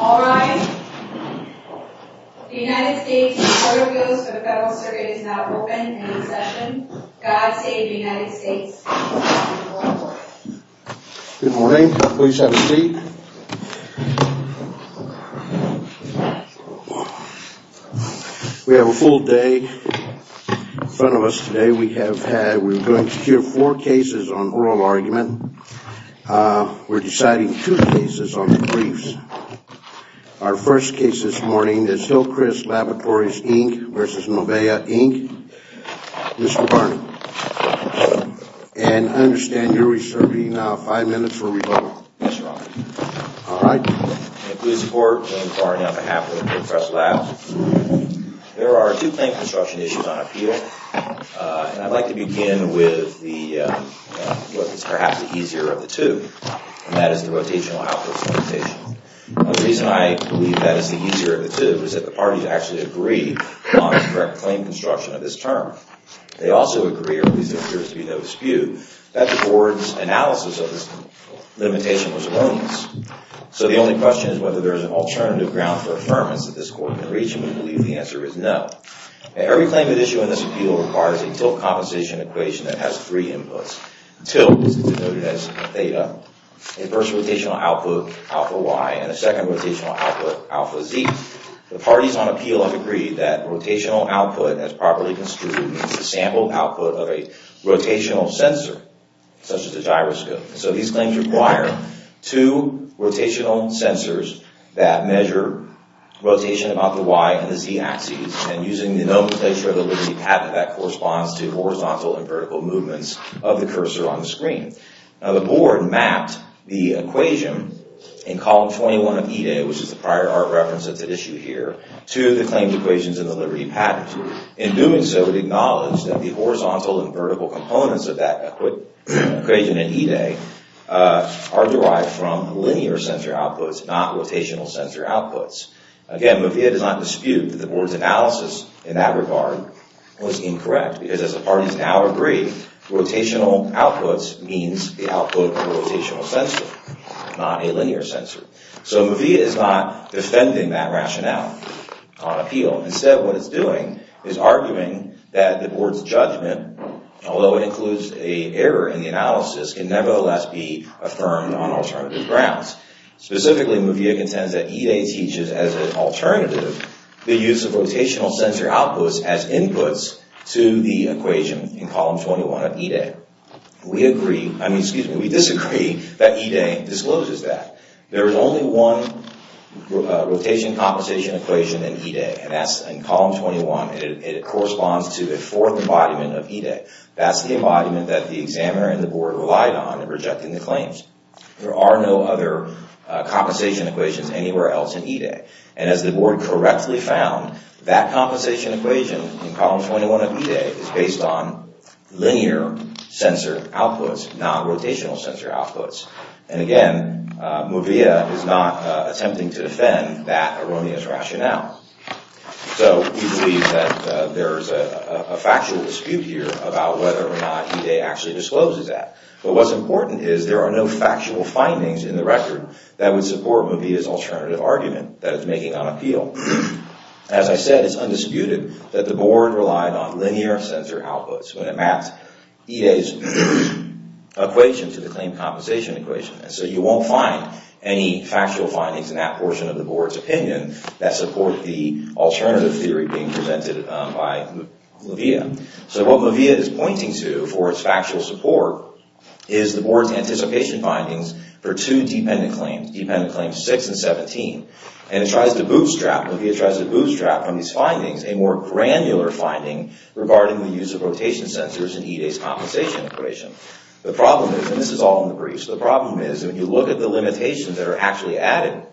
All rise. The United States Court of Appeals for the Federal Circuit is now open and in session. God save the United States. Good morning. Please have a seat. We have a full day in front of us today. We have had, we're going to hear four cases on oral argument. We're deciding two cases on the briefs. Our first case this morning is Hillcrest Laboratories, Inc. v. Movea, Inc. Mr. Barney, and I understand you're reserving five minutes for rebuttal. Yes, Your Honor. All right. Including support for Mr. Barney on behalf of Hillcrest Labs, there are two claim construction issues on appeal. And I'd like to begin with what is perhaps the easier of the two, and that is the rotational outputs limitation. The reason I believe that is the easier of the two is that the parties actually agree on the correct claim construction of this term. They also agree, or at least there appears to be no dispute, that the board's analysis of this limitation was erroneous. So the only question is whether there is an alternative ground for affirmance that this court can reach, and we believe the answer is no. Every claim at issue in this appeal requires a tilt compensation equation that has three inputs. Tilt is denoted as theta, a first rotational output, alpha y, and a second rotational output, alpha z. The parties on appeal have agreed that rotational output, as properly construed, is the sample output of a rotational sensor, such as a gyroscope. So these claims require two rotational sensors that measure rotation about the y and the z-axis, and using the nomenclature of the Liberty patent, that corresponds to horizontal and vertical movements of the cursor on the screen. Now the board mapped the equation in column 21 of E-Day, which is the prior art reference that's at issue here, to the claimed equations in the Liberty patent. In doing so, it acknowledged that the horizontal and vertical components of that equation in E-Day are derived from linear sensor outputs, not rotational sensor outputs. Again, Movia does not dispute that the board's analysis in that regard was incorrect, because as the parties now agree, rotational outputs means the output of a rotational sensor, not a linear sensor. So Movia is not defending that rationale on appeal. Instead, what it's doing is arguing that the board's judgment, although it includes an error in the analysis, can nevertheless be affirmed on alternative grounds. Specifically, Movia contends that E-Day teaches, as an alternative, the use of rotational sensor outputs as inputs to the equation in column 21 of E-Day. We disagree that E-Day discloses that. There is only one rotation compensation equation in E-Day, and that's in column 21. It corresponds to a fourth embodiment of E-Day. That's the embodiment that the examiner and the board relied on in rejecting the claims. There are no other compensation equations anywhere else in E-Day. And as the board correctly found, that compensation equation in column 21 of E-Day is based on linear sensor outputs, not rotational sensor outputs. And again, Movia is not attempting to defend that erroneous rationale. So we believe that there is a factual dispute here about whether or not E-Day actually discloses that. But what's important is there are no factual findings in the record that would support Movia's alternative argument that it's making on appeal. As I said, it's undisputed that the board relied on linear sensor outputs when it mapped E-Day's equation to the claim compensation equation. And so you won't find any factual findings in that portion of the board's opinion that support the alternative theory being presented by Movia. So what Movia is pointing to for its factual support is the board's anticipation findings for two dependent claims, dependent claims 6 and 17. And it tries to bootstrap, Movia tries to bootstrap from these findings a more granular finding regarding the use of rotation sensors in E-Day's compensation equation. The problem is, and this is all in the briefs, the problem is when you look at the limitations that are actually added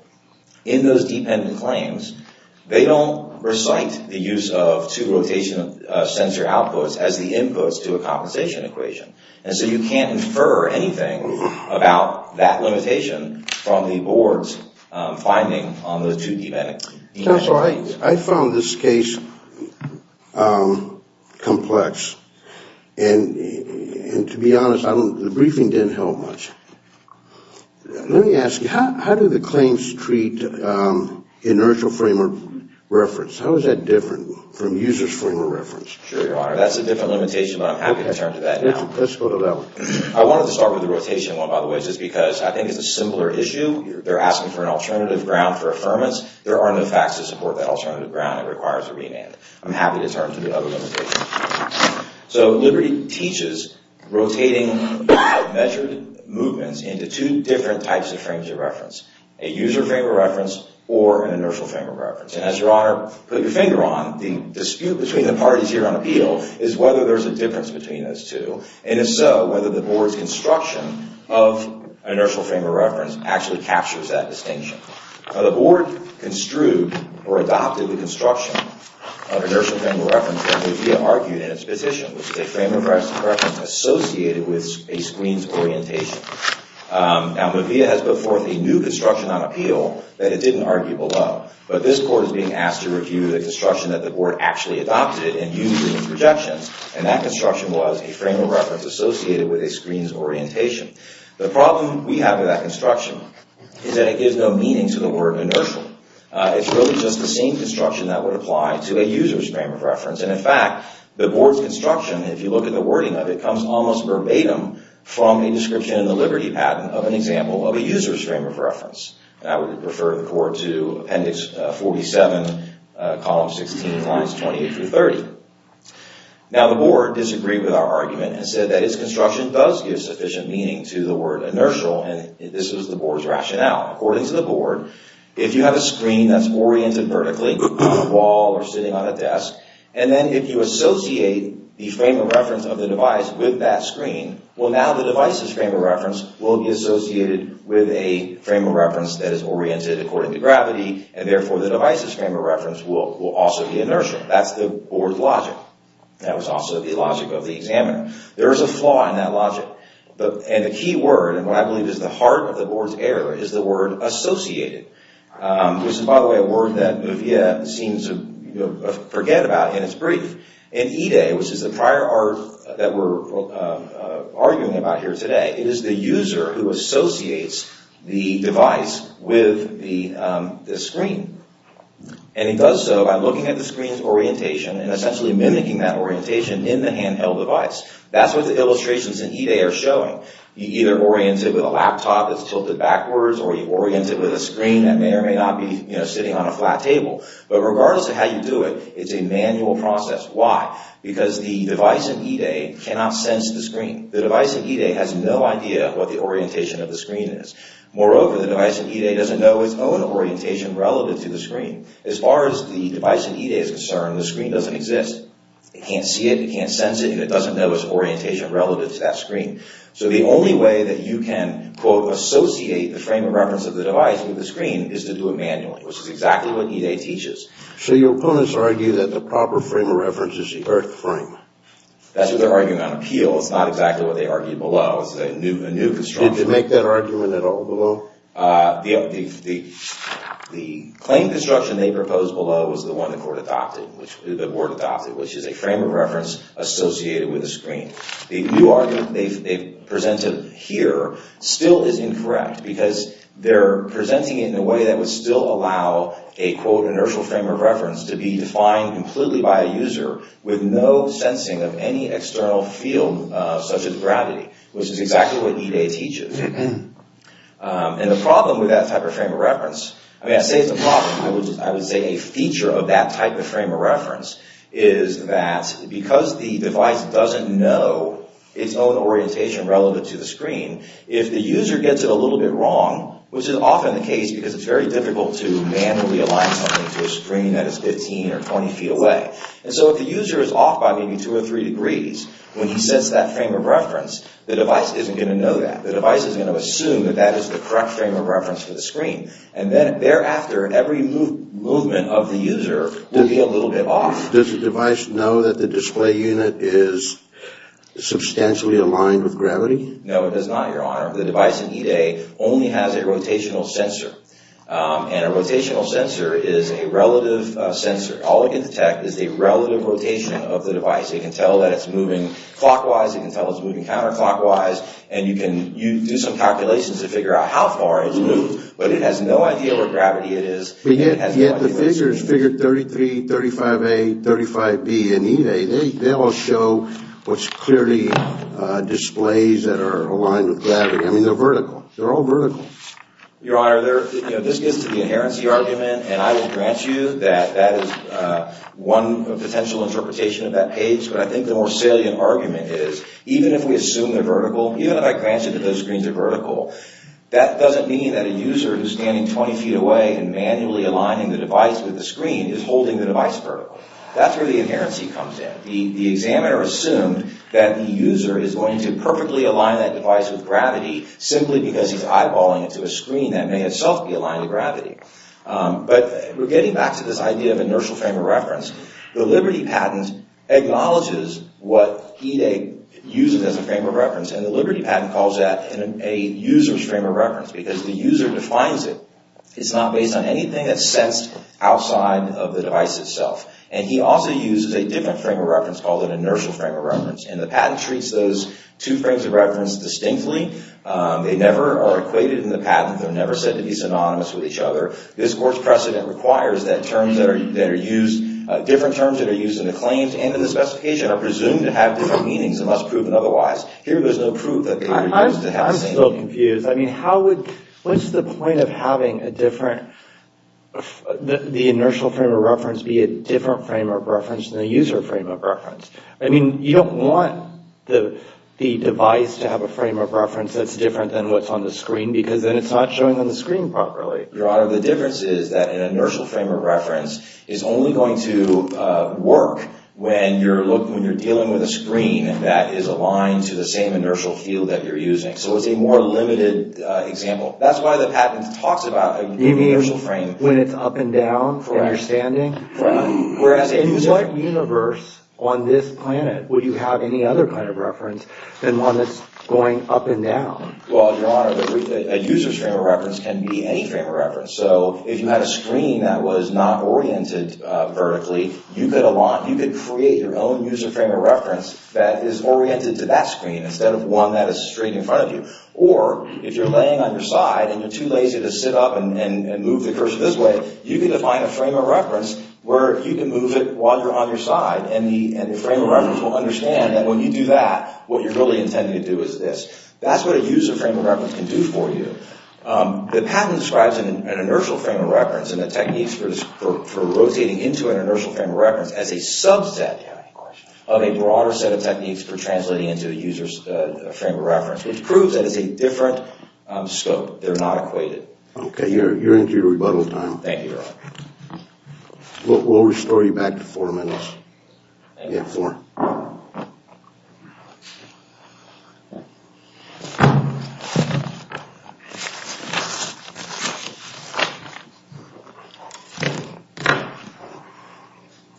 in those dependent claims, they don't recite the use of two rotation sensor outputs as the inputs to a compensation equation. And so you can't infer anything about that limitation from the board's finding on the two dependent claims. I found this case complex. And to be honest, the briefing didn't help much. Let me ask you, how do the claims treat inertial frame of reference? How is that different from user's frame of reference? Sure, Your Honor. That's a different limitation, but I'm happy to turn to that now. Let's go to that one. I wanted to start with the rotation one, by the way, just because I think it's a simpler issue. They're asking for an alternative ground for affirmance. There are no facts to support that alternative ground. It requires a remand. I'm happy to turn to the other limitations. So Liberty teaches rotating measured movements into two different types of frames of reference, a user frame of reference or an inertial frame of reference. And as Your Honor put your finger on, the dispute between the parties here on appeal is whether there's a difference between those two. And if so, whether the board's construction of inertial frame of reference actually captures that distinction. Now, the board construed or adopted the construction of inertial frame of reference that Mavia argued in its petition, which is a frame of reference associated with a squeeze orientation. Now, Mavia has put forth a new construction on appeal that it didn't argue below. But this court is being asked to review the construction that the board actually adopted and used in its projections. And that construction was a frame of reference associated with a squeeze orientation. The problem we have with that construction is that it gives no meaning to the word inertial. It's really just the same construction that would apply to a user's frame of reference. And in fact, the board's construction, if you look at the wording of it, comes almost verbatim from a description in the Liberty patent of an example of a user's frame of reference. And I would refer the court to appendix 47, column 16, lines 28 through 30. Now, the board disagreed with our argument and said that its construction does give sufficient meaning to the word inertial. And this was the board's rationale. According to the board, if you have a screen that's oriented vertically, a wall or sitting on a desk, and then if you associate the frame of reference of the device with that screen, well, now the device's frame of reference will be associated with a frame of reference that is oriented according to gravity, and therefore the device's frame of reference will also be inertial. That's the board's logic. That was also the logic of the examiner. There is a flaw in that logic. And the key word, and what I believe is the heart of the board's error, is the word associated, which is, by the way, a word that Nivea seems to forget about in its brief. In E-Day, which is the prior art that we're arguing about here today, it is the user who associates the device with the screen. And he does so by looking at the screen's orientation and essentially mimicking that orientation in the handheld device. That's what the illustrations in E-Day are showing. You either orient it with a laptop that's tilted backwards, or you orient it with a screen that may or may not be sitting on a flat table. But regardless of how you do it, it's a manual process. Why? Because the device in E-Day cannot sense the screen. The device in E-Day has no idea what the orientation of the screen is. Moreover, the device in E-Day doesn't know its own orientation relative to the screen. As far as the device in E-Day is concerned, the screen doesn't exist. It can't see it, it can't sense it, and it doesn't know its orientation relative to that screen. So the only way that you can, quote, associate the frame of reference of the device with the screen is to do it manually, which is exactly what E-Day teaches. So your opponents argue that the proper frame of reference is the earth frame. That's what they're arguing on appeal. It's not exactly what they argued below. It's a new construction. Did you make that argument at all below? The claim construction they proposed below was the one the court adopted, the board adopted, which is a frame of reference associated with a screen. The new argument they've presented here still is incorrect because they're presenting it in a way that would still allow a, quote, inertial frame of reference to be defined completely by a user with no sensing of any external field such as gravity, which is exactly what E-Day teaches. And the problem with that type of frame of reference, I mean, I say it's a problem. I would say a feature of that type of frame of reference is that because the device doesn't know its own orientation relevant to the screen, if the user gets it a little bit wrong, which is often the case because it's very difficult to manually align something to a screen that is 15 or 20 feet away. And so if the user is off by maybe two or three degrees when he sets that frame of reference, the device isn't going to know that. The device is going to assume that that is the correct frame of reference for the screen. And then thereafter, every movement of the user will be a little bit off. Does the device know that the display unit is substantially aligned with gravity? No, it does not, Your Honor. The device in E-Day only has a rotational sensor. And a rotational sensor is a relative sensor. All it can detect is the relative rotation of the device. It can tell that it's moving clockwise. It can tell it's moving counterclockwise. And you can do some calculations to figure out how far it's moved. But it has no idea what gravity it is. But yet the figures, figure 33, 35A, 35B in E-Day, they all show what's clearly displays that are aligned with gravity. I mean, they're vertical. They're all vertical. Your Honor, this gets to the inherency argument, and I will grant you that that is one potential interpretation of that page. But I think the more salient argument is even if we assume they're vertical, even if I grant you that those screens are vertical, that doesn't mean that a user who's standing 20 feet away and manually aligning the device with the screen is holding the device vertical. That's where the inherency comes in. The examiner assumed that the user is going to perfectly align that device with gravity simply because he's eyeballing it to a screen that may itself be aligned to gravity. But we're getting back to this idea of inertial frame of reference. The Liberty patent acknowledges what E-Day uses as a frame of reference, and the Liberty patent calls that a user's frame of reference because the user defines it. It's not based on anything that's sensed outside of the device itself. And he also uses a different frame of reference called an inertial frame of reference, and the patent treats those two frames of reference distinctly. They never are equated in the patent. They're never said to be synonymous with each other. This court's precedent requires that terms that are used, different terms that are used in the claims and in the specification are presumed to have different meanings and must prove otherwise. Here, there's no proof that they were used to have same meanings. I'm still confused. I mean, how would, what's the point of having a different, the inertial frame of reference be a different frame of reference than the user frame of reference? I mean, you don't want the device to have a frame of reference that's different than what's on the screen because then it's not showing on the screen properly. Your Honor, the difference is that an inertial frame of reference is only going to work when you're dealing with a screen that is aligned to the same inertial field that you're using. So it's a more limited example. That's why the patent talks about an inertial frame. You mean when it's up and down for understanding? Right. Whereas in what universe on this planet would you have any other kind of reference than one that's going up and down? Well, Your Honor, a user's frame of reference can be any frame of reference. So if you had a screen that was not oriented vertically, you could create your own user frame of reference that is oriented to that screen instead of one that is straight in front of you. Or if you're laying on your side and you're too lazy to sit up and move the cursor this way, you could define a frame of reference where you can move it while you're on your side and the frame of reference will understand that when you do that, what you're really intending to do is this. That's what a user frame of reference can do for you. The patent describes an inertial frame of reference and the techniques for rotating into an inertial frame of reference as a subset of a broader set of techniques for translating into a user's frame of reference, which proves that it's a different scope. They're not equated. Okay, you're into your rebuttal time. Thank you, Your Honor. We'll restore you back to four minutes. Thank you. Yeah, four.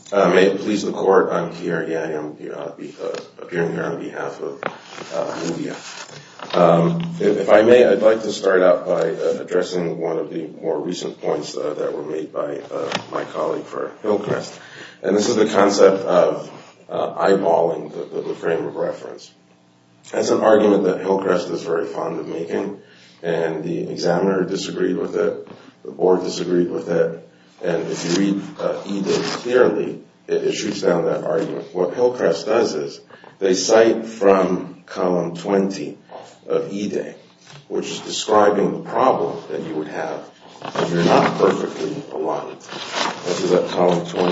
If I may please the court, I'm here. Yeah, I'm appearing here on behalf of NVIDIA. If I may, I'd like to start out by addressing one of the more recent points that were made by my colleague for Hillcrest, and this is the concept of eyeballing the frame of reference. That's an argument that Hillcrest is very fond of making, and the examiner disagreed with it, the board disagreed with it, and if you read E-Day clearly, it shoots down that argument. What Hillcrest does is they cite from column 20 of E-Day, which is describing the problem that you would have if you're not perfectly aligned. This is at column 20,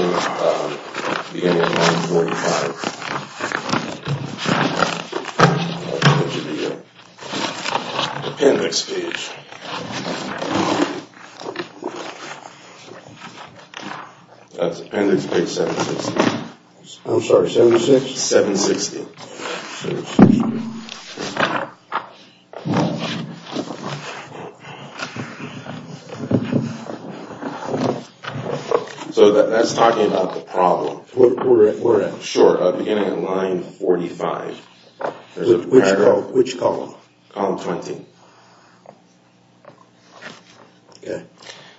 beginning of line 45. The appendix page. That's appendix page 760. I'm sorry, 76? 760. So that's talking about the problem. Where at? Sure, beginning of line 45. Which column? Column 20. Okay.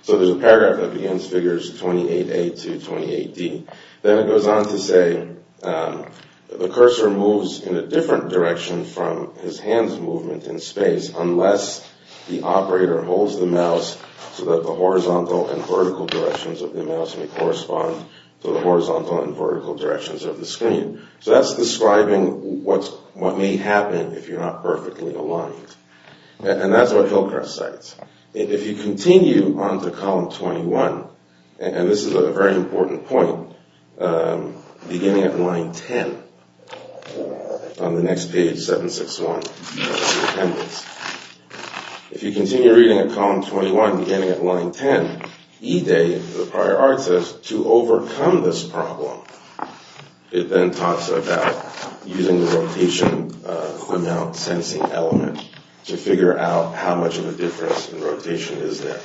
So there's a paragraph that begins figures 28A to 28D. Then it goes on to say, the cursor moves in a different direction from his hands' movement in space unless the operator holds the mouse so that the horizontal and vertical directions of the mouse may correspond to the horizontal and vertical directions of the screen. So that's describing what may happen if you're not perfectly aligned. And that's what Hillcrest cites. If you continue on to column 21, and this is a very important point, beginning at line 10, on the next page, 761, that's the appendix. If you continue reading at column 21, beginning at line 10, E-Day, the prior argument says, to overcome this problem, it then talks about using the rotation amount sensing element to figure out how much of a difference in rotation is there.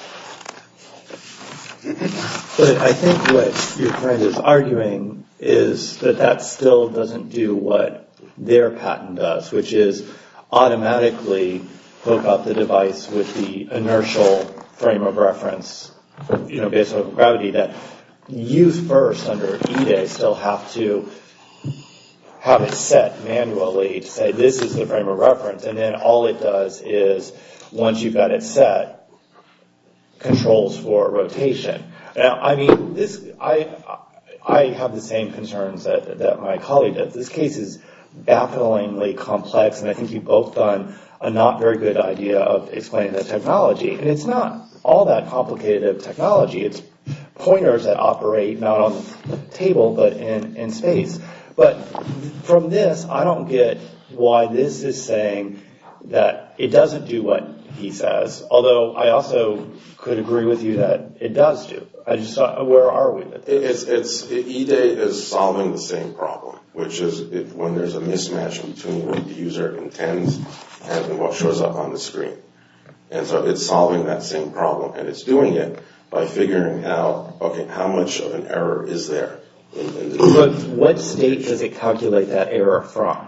But I think what your friend is arguing is that that still doesn't do what their patent does, which is automatically hook up the device with the inertial frame of reference, you know, based on gravity, that you first, under E-Day, still have to have it set manually to say this is the frame of reference, and then all it does is, once you've got it set, controls for rotation. Now, I mean, this... I have the same concerns that my colleague does. This case is bafflingly complex, and I think you've both done a not very good idea of explaining the technology. And it's not all that complicated of technology. It's pointers that operate not on the table, but in space. But from this, I don't get why this is saying that it doesn't do what he says, although I also could agree with you that it does do. I just thought, where are we with this? It's... E-Day is solving the same problem, which is when there's a mismatch between what the user intends and what shows up on the screen. And so it's solving that same problem, and it's doing it by figuring out, okay, how much of an error is there? But what state does it calculate that error from?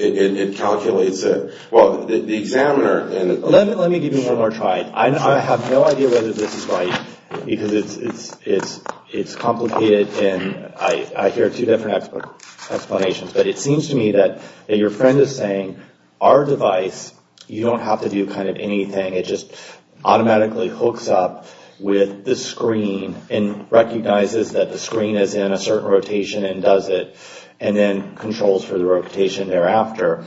It calculates it. Well, the examiner... Let me give you one more try. I have no idea whether this is right, because it's complicated, and I hear two different explanations. But it seems to me that your friend is saying, our device, you don't have to do kind of anything. It just automatically hooks up with the screen and recognizes that the screen is in a certain rotation and does it, and then controls for the rotation thereafter.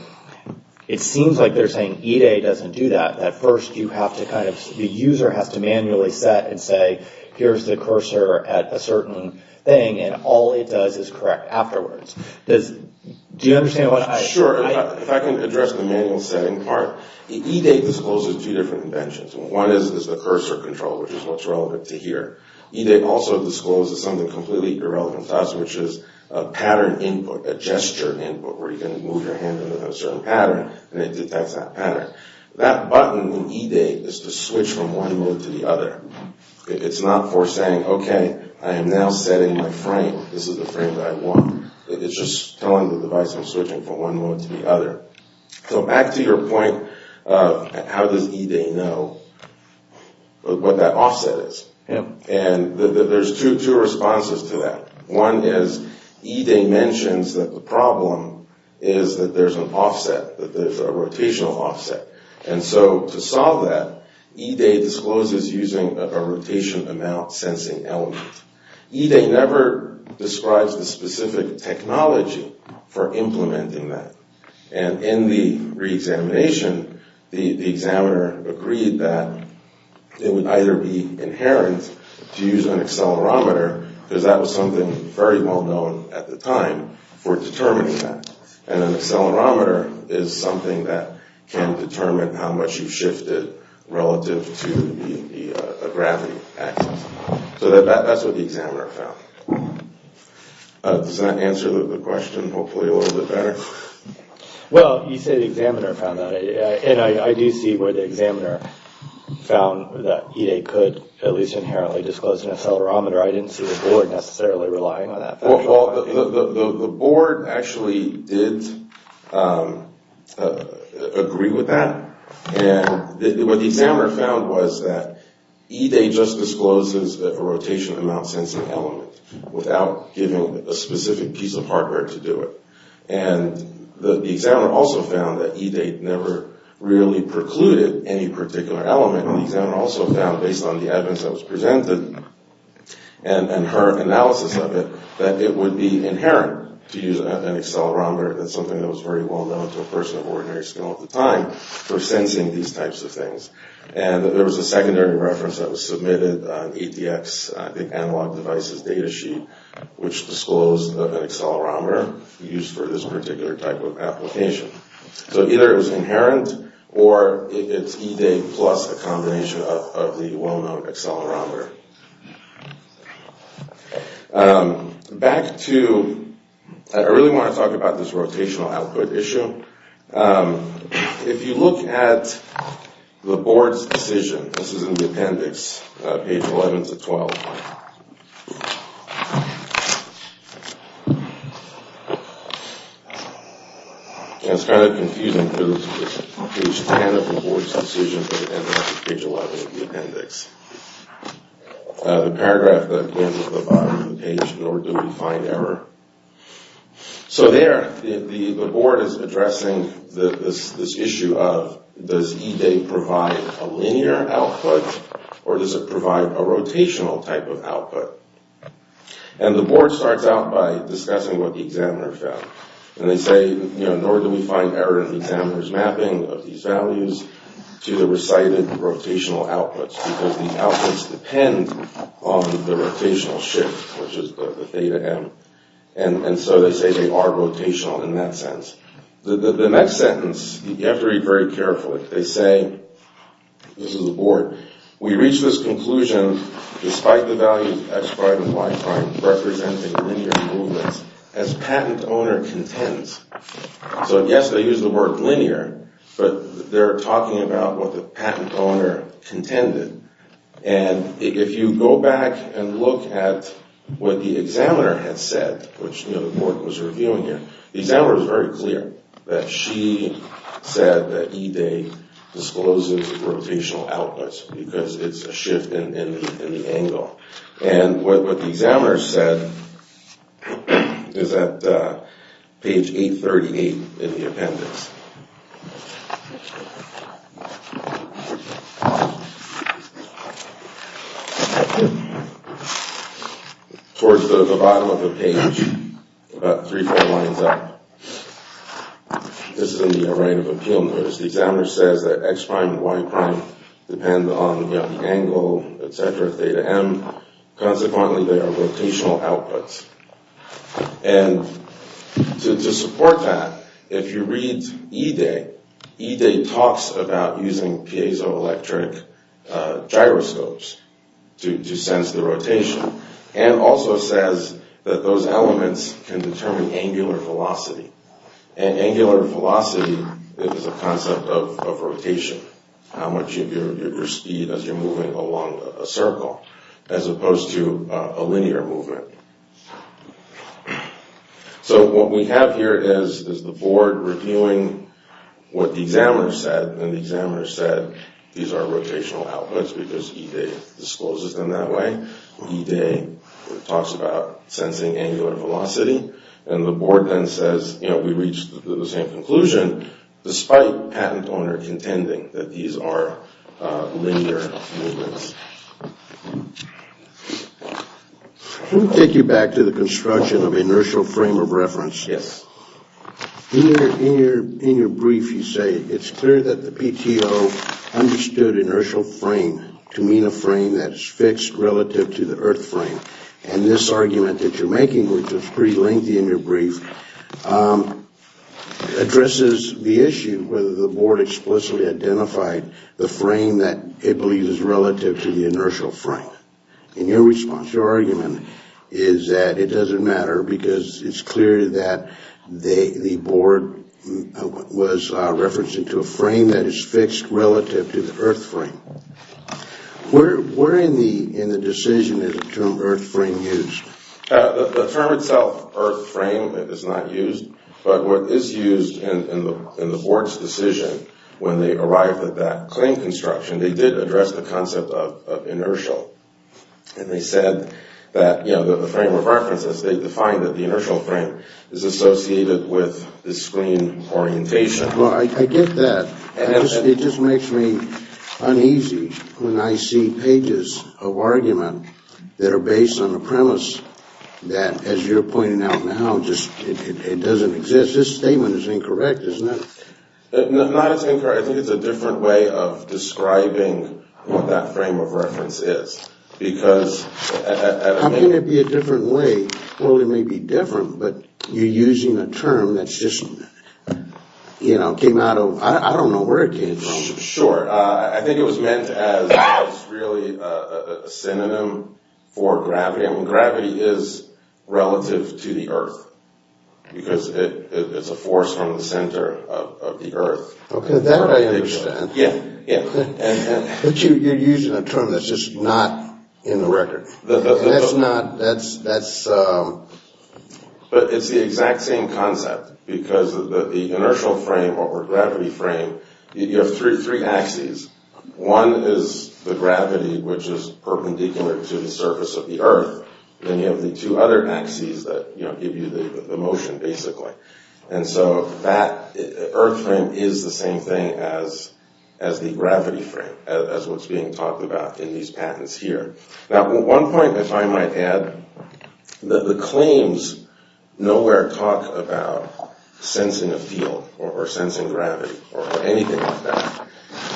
It seems like they're saying E-Day doesn't do that. At first, you have to kind of... The user has to manually set and say, here's the cursor at a certain thing, and all it does is correct afterwards. Does... Do you understand what I... Sure. If I can address the manual setting part. E-Day discloses two different inventions. One is the cursor control, which is what's relevant to here. E-Day also discloses something completely irrelevant to us, which is a pattern input, a gesture input, where you can move your hand in a certain pattern, and it detects that pattern. That button in E-Day is to switch from one mode to the other. It's not for saying, okay, I am now setting my frame. This is the frame that I want. It's just telling the device I'm switching from one mode to the other. So back to your point of how does E-Day know what that offset is. Yeah. And there's two responses to that. One is E-Day mentions that the problem is that there's an offset, that there's a rotational offset. And so to solve that, E-Day discloses using a rotation amount sensing element. E-Day never describes the specific technology for implementing that. And in the reexamination, the examiner agreed that it would either be inherent to use an accelerometer, because that was something very well known at the time for determining that. And an accelerometer is something that can determine how much you've shifted relative to the gravity axis. So that's what the examiner found. Does that answer the question hopefully a little bit better? Well, you said the examiner found that. And I do see where the examiner found that E-Day could at least inherently disclose an accelerometer. I didn't see the board necessarily relying on that. Well, the board actually did agree with that. And what the examiner found was that E-Day just discloses the rotation amount sensing element without giving a specific piece of hardware to do it. And the examiner also found that E-Day never really precluded any particular element. And the examiner also found, based on the evidence that was presented and her analysis of it, that it would be inherent to use an accelerometer. That's something that was very well known to a person of ordinary skill at the time for sensing these types of things. And there was a secondary reference that was submitted on EDX, I think analog devices data sheet, which disclosed that an accelerometer used for this particular type of application. So either it was inherent or it's E-Day plus a combination of the well-known accelerometer. Back to, I really want to talk about this rotational output issue. If you look at the board's decision, this is in the appendix, page 11 to 12. It's kind of confusing because it's page 10 of the board's decision, but it ends up at page 11 of the appendix. The paragraph that ends at the bottom of the page, in order to define error. So there, the board is addressing this issue of, does E-Day provide a linear output or does it provide a rotational type of output? And the board starts out by discussing what the examiner found. And they say, you know, nor do we find error in the examiner's mapping of these values to the recited rotational outputs, because these outputs depend on the rotational shift, which is the theta m. And so they say they are rotational in that sense. The next sentence, you have to read very carefully. They say, this is the board, we reach this conclusion despite the value of x prime and y prime representing linear movements as patent owner contends. So yes, they use the word linear, but they're talking about what the patent owner contended. And if you go back and look at what the examiner had said, which the board was reviewing here, the examiner was very clear that she said that E-Day discloses rotational outputs because it's a shift in the angle. And what the examiner said is at page 838 in the appendix. Towards the bottom of the page, about three, four lines up. This is in the array of appeal notes. The examiner says that x prime and y prime depend on the angle, et cetera, theta m. Consequently, they are rotational outputs. And to support that, if you read E-Day, E-Day talks about using piezoelectric gyroscopes to sense the rotation. And also says that those elements can determine angular velocity. And angular velocity is a concept of rotation. How much of your speed as you're moving along a circle, as opposed to a linear movement. So what we have here is the board reviewing what the examiner said, and the examiner said these are rotational outputs because E-Day discloses them that way. E-Day talks about sensing angular velocity. And the board then says, you know, we reached the same conclusion, despite patent owner contending that these are linear movements. Let me take you back to the construction of inertial frame of reference. Yes. In your brief, you say it's clear that the PTO understood inertial frame to mean a frame that is fixed relative to the earth frame. And this argument that you're making, which is pretty lengthy in your brief, addresses the issue whether the board explicitly identified the frame that it believes is relative to the inertial frame. In your response, your argument is that it doesn't matter because it's clear that the board was referencing to a frame that is fixed relative to the earth frame. Where in the decision is the term earth frame used? The term itself, earth frame, is not used. But what is used in the board's decision when they arrived at that claim in the construction, they did address the concept of inertial. And they said that, you know, the frame of reference, they defined that the inertial frame is associated with the screen orientation. Well, I get that. It just makes me uneasy when I see pages of argument that are based on a premise that, as you're pointing out now, just doesn't exist. This statement is incorrect, isn't it? No, not as incorrect. I think it's a different way of describing what that frame of reference is. I mean, it'd be a different way. Well, it may be different, but you're using a term that's just, you know, came out of, I don't know where it came from. Sure. I think it was meant as really a synonym for gravity. Gravity is relative to the earth because it's a force from the center of the earth. Okay, that I understand. Yeah, yeah. But you're using a term that's just not in the record. That's not, that's, that's. But it's the exact same concept because the inertial frame or gravity frame, you have three axes. One is the gravity, which is perpendicular to the surface of the earth. Then you have the two other axes that, you know, give you the motion, basically. And so that earth frame is the same thing as the gravity frame, as what's being talked about in these patents here. Now, one point, if I might add, the claims nowhere talk about sensing a field or sensing gravity or anything like that.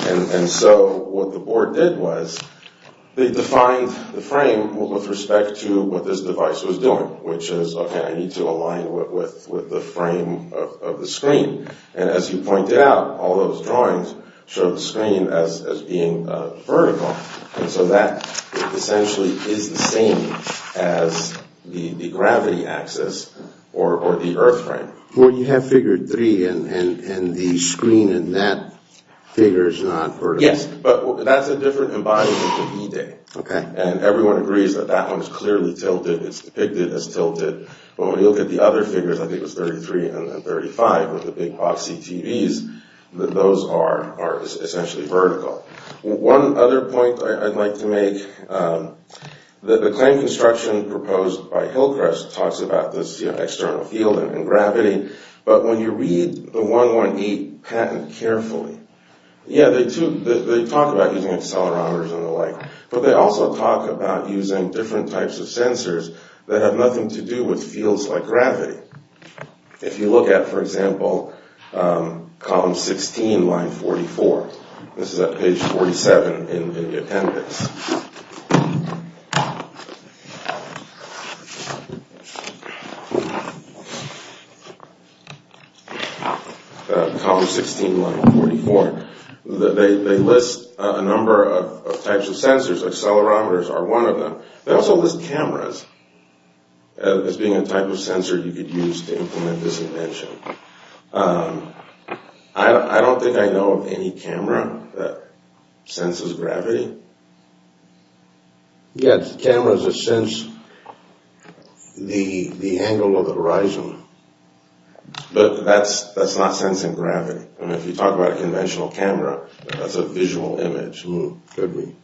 And so what the board did was they defined the frame with respect to what this device was doing, which is, okay, I need to align with the frame of the screen. And as you pointed out, all those drawings show the screen as being vertical. And so that essentially is the same as the gravity axis or the earth frame. Well, you have figure three and the screen in that figure is not vertical. Yes, but that's a different embodiment of E-Day. Okay. And everyone agrees that that one is clearly tilted. It's depicted as tilted. But when you look at the other figures, I think it was 33 and then 35 with the big boxy TVs, those are essentially vertical. One other point I'd like to make, the claim construction proposed by Hillcrest talks about this external field and gravity, but when you read the 118 patent carefully, yeah, they talk about using accelerometers and the like, but they also talk about using different types of sensors that have nothing to do with fields like gravity. If you look at, for example, column 16, line 44, this is at page 47 in the appendix, column 16, line 44, they list a number of types of sensors. Accelerometers are one of them. They also list cameras as being a type of sensor you could use to implement this invention. I don't think I know of any camera that senses gravity. Yeah, cameras that sense the angle of the horizon. But that's not sensing gravity. I mean, if you talk about a conventional camera, that's a visual image. Could be.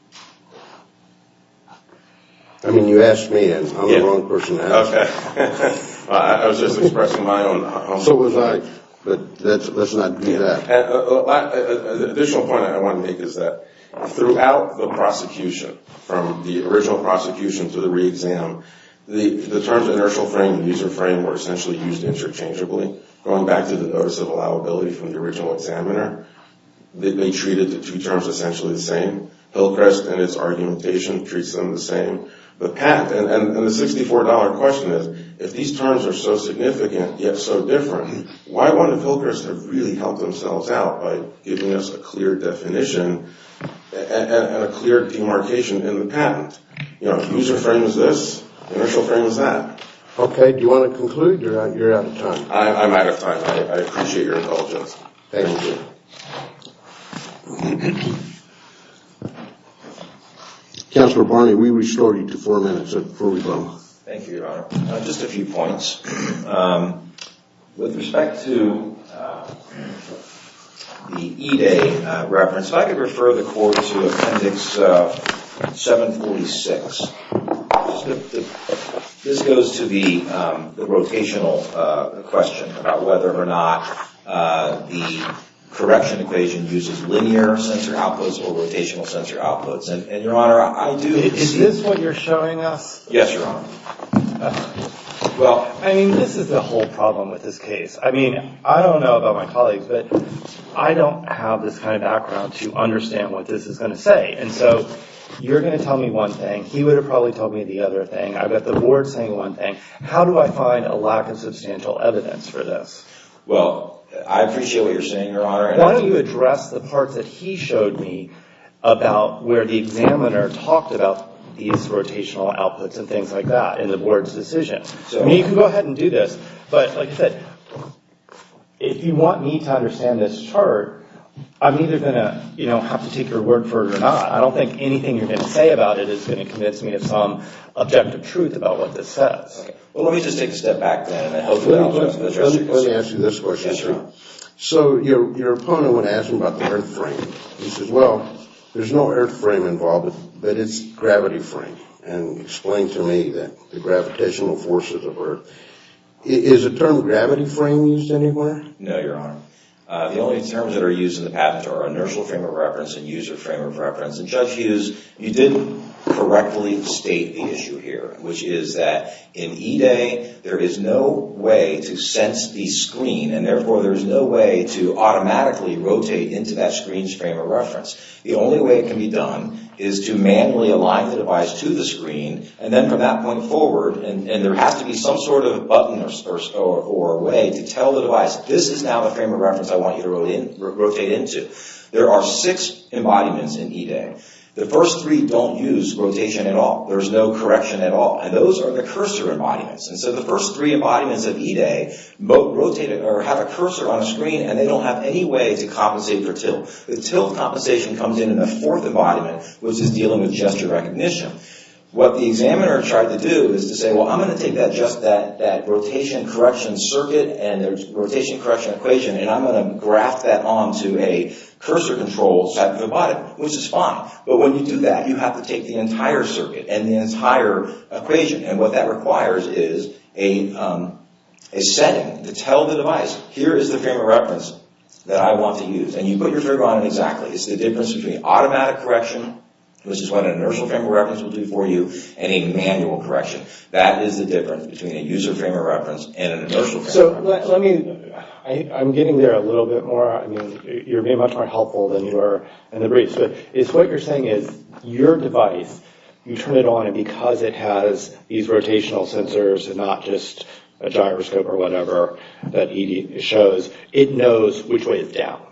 I mean, you asked me, and I'm the wrong person to ask. Okay. I was just expressing my own... So was I, but let's not do that. The additional point I want to make is that throughout the prosecution, from the original prosecution to the re-exam, the terms inertial frame and user frame were essentially used interchangeably. Going back to the notice of allowability from the original examiner, they treated the two terms essentially the same. Hillcrest and its argumentation treats them the same. And the $64 question is, if these terms are so significant yet so different, why wouldn't Hillcrest have really helped themselves out by giving us a clear definition and a clear demarcation in the patent? User frame is this. Inertial frame is that. Okay. Do you want to conclude? You're out of time. I'm out of time. I appreciate your indulgence. Thank you. Thank you. Counselor Barney, we restore you to four minutes before we go. Thank you, Your Honor. Just a few points. With respect to the E-Day reference, if I could refer the court to Appendix 746. This goes to the rotational question about whether or not the correction equation uses linear sensor outputs or rotational sensor outputs. And, Your Honor, I do see. Is this what you're showing us? Yes, Your Honor. Well, I mean, this is the whole problem with this case. I mean, I don't know about my colleagues, but I don't have this kind of background to understand what this is going to say. And so you're going to tell me one thing. He would have probably told me the other thing. I've got the board saying one thing. How do I find a lack of substantial evidence for this? Well, I appreciate what you're saying, Your Honor. Why don't you address the parts that he showed me about where the examiner talked about these rotational outputs and things like that in the board's decision. So, I mean, you can go ahead and do this. But, like I said, if you want me to understand this chart, I'm either going to have to take your word for it or not. I don't think anything you're going to say about it is going to convince me of some objective truth about what this says. Okay. Well, let me just take a step back then and hopefully I'll address your concerns. Let me ask you this question, too. Yes, Your Honor. So, your opponent went asking about the earth frame. He says, well, there's no earth frame involved, but it's gravity frame. And he explained to me that the gravitational forces of earth. Is the term gravity frame used anywhere? No, Your Honor. The only terms that are used in the patent are inertial frame of reference and user frame of reference. And, Judge Hughes, you did correctly state the issue here, which is that in E-Day there is no way to sense the screen and, therefore, there is no way to automatically rotate into that screen's frame of reference. The only way it can be done is to manually align the device to the screen and then, from that point forward, and there has to be some sort of button or way to tell the device this is now the frame of reference I want you to rotate into. There are six embodiments in E-Day. The first three don't use rotation at all. There's no correction at all. And those are the cursor embodiments. And so the first three embodiments of E-Day have a cursor on a screen and they don't have any way to compensate for tilt. The tilt compensation comes in in the fourth embodiment, which is dealing with gesture recognition. What the examiner tried to do is to say, well, I'm going to take just that rotation correction circuit and the rotation correction equation and I'm going to graph that onto a cursor control type of embodiment, which is fine. But when you do that, you have to take the entire circuit and the entire equation. And what that requires is a setting to tell the device, here is the frame of reference that I want to use. And you put your finger on it exactly. It's the difference between automatic correction, which is what an inertial frame of reference will do for you, and a manual correction. That is the difference between a user frame of reference and an inertial frame of reference. So let me, I'm getting there a little bit more. I mean, you're being much more helpful than you were in the brief. So it's what you're saying is your device, you turn it on and because it has these rotational sensors and not just a gyroscope or whatever that E-Day shows, it knows which way is down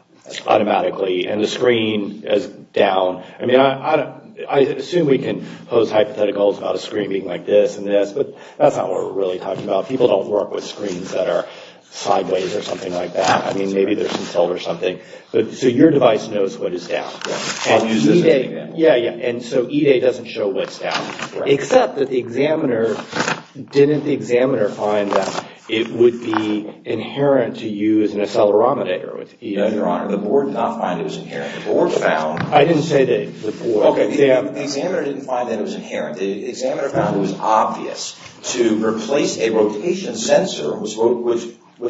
automatically. And the screen is down. I mean, I assume we can pose hypotheticals about a screen being like this and this, but that's not what we're really talking about. People don't work with screens that are sideways or something like that. I mean, maybe there's a cell or something. So your device knows what is down. And E-Day, yeah, yeah. And so E-Day doesn't show what's down. Except that the examiner, didn't the examiner find that it would be inherent to use an accelerometer with E-Day? No, Your Honor. The board did not find it was inherent. The board found. I didn't say the board. The examiner didn't find that it was inherent. The examiner found it was obvious to replace a rotation sensor, which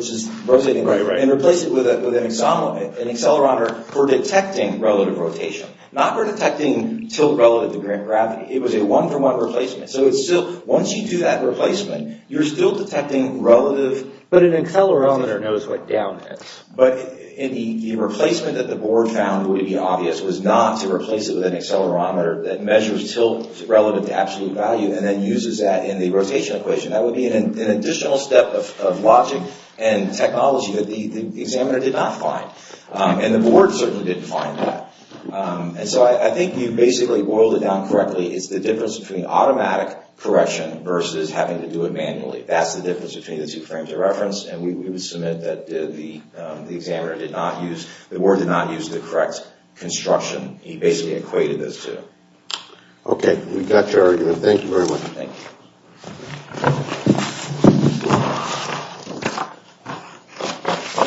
is rotating, and replace it with an accelerometer for detecting relative rotation. Not for detecting tilt relative to gravity. It was a one-for-one replacement. So once you do that replacement, you're still detecting relative. But an accelerometer knows what down is. But the replacement that the board found would be obvious was not to replace it with an accelerometer that measures tilt relative to absolute value and then uses that in the rotation equation. That would be an additional step of logic and technology that the examiner did not find. And the board certainly didn't find that. And so I think you basically boiled it down correctly. It's the difference between automatic correction versus having to do it manually. That's the difference between the two frames of reference. And we would submit that the examiner did not use, the correct construction. He basically equated those two. Okay. We got your argument. Thank you very much. Thank you.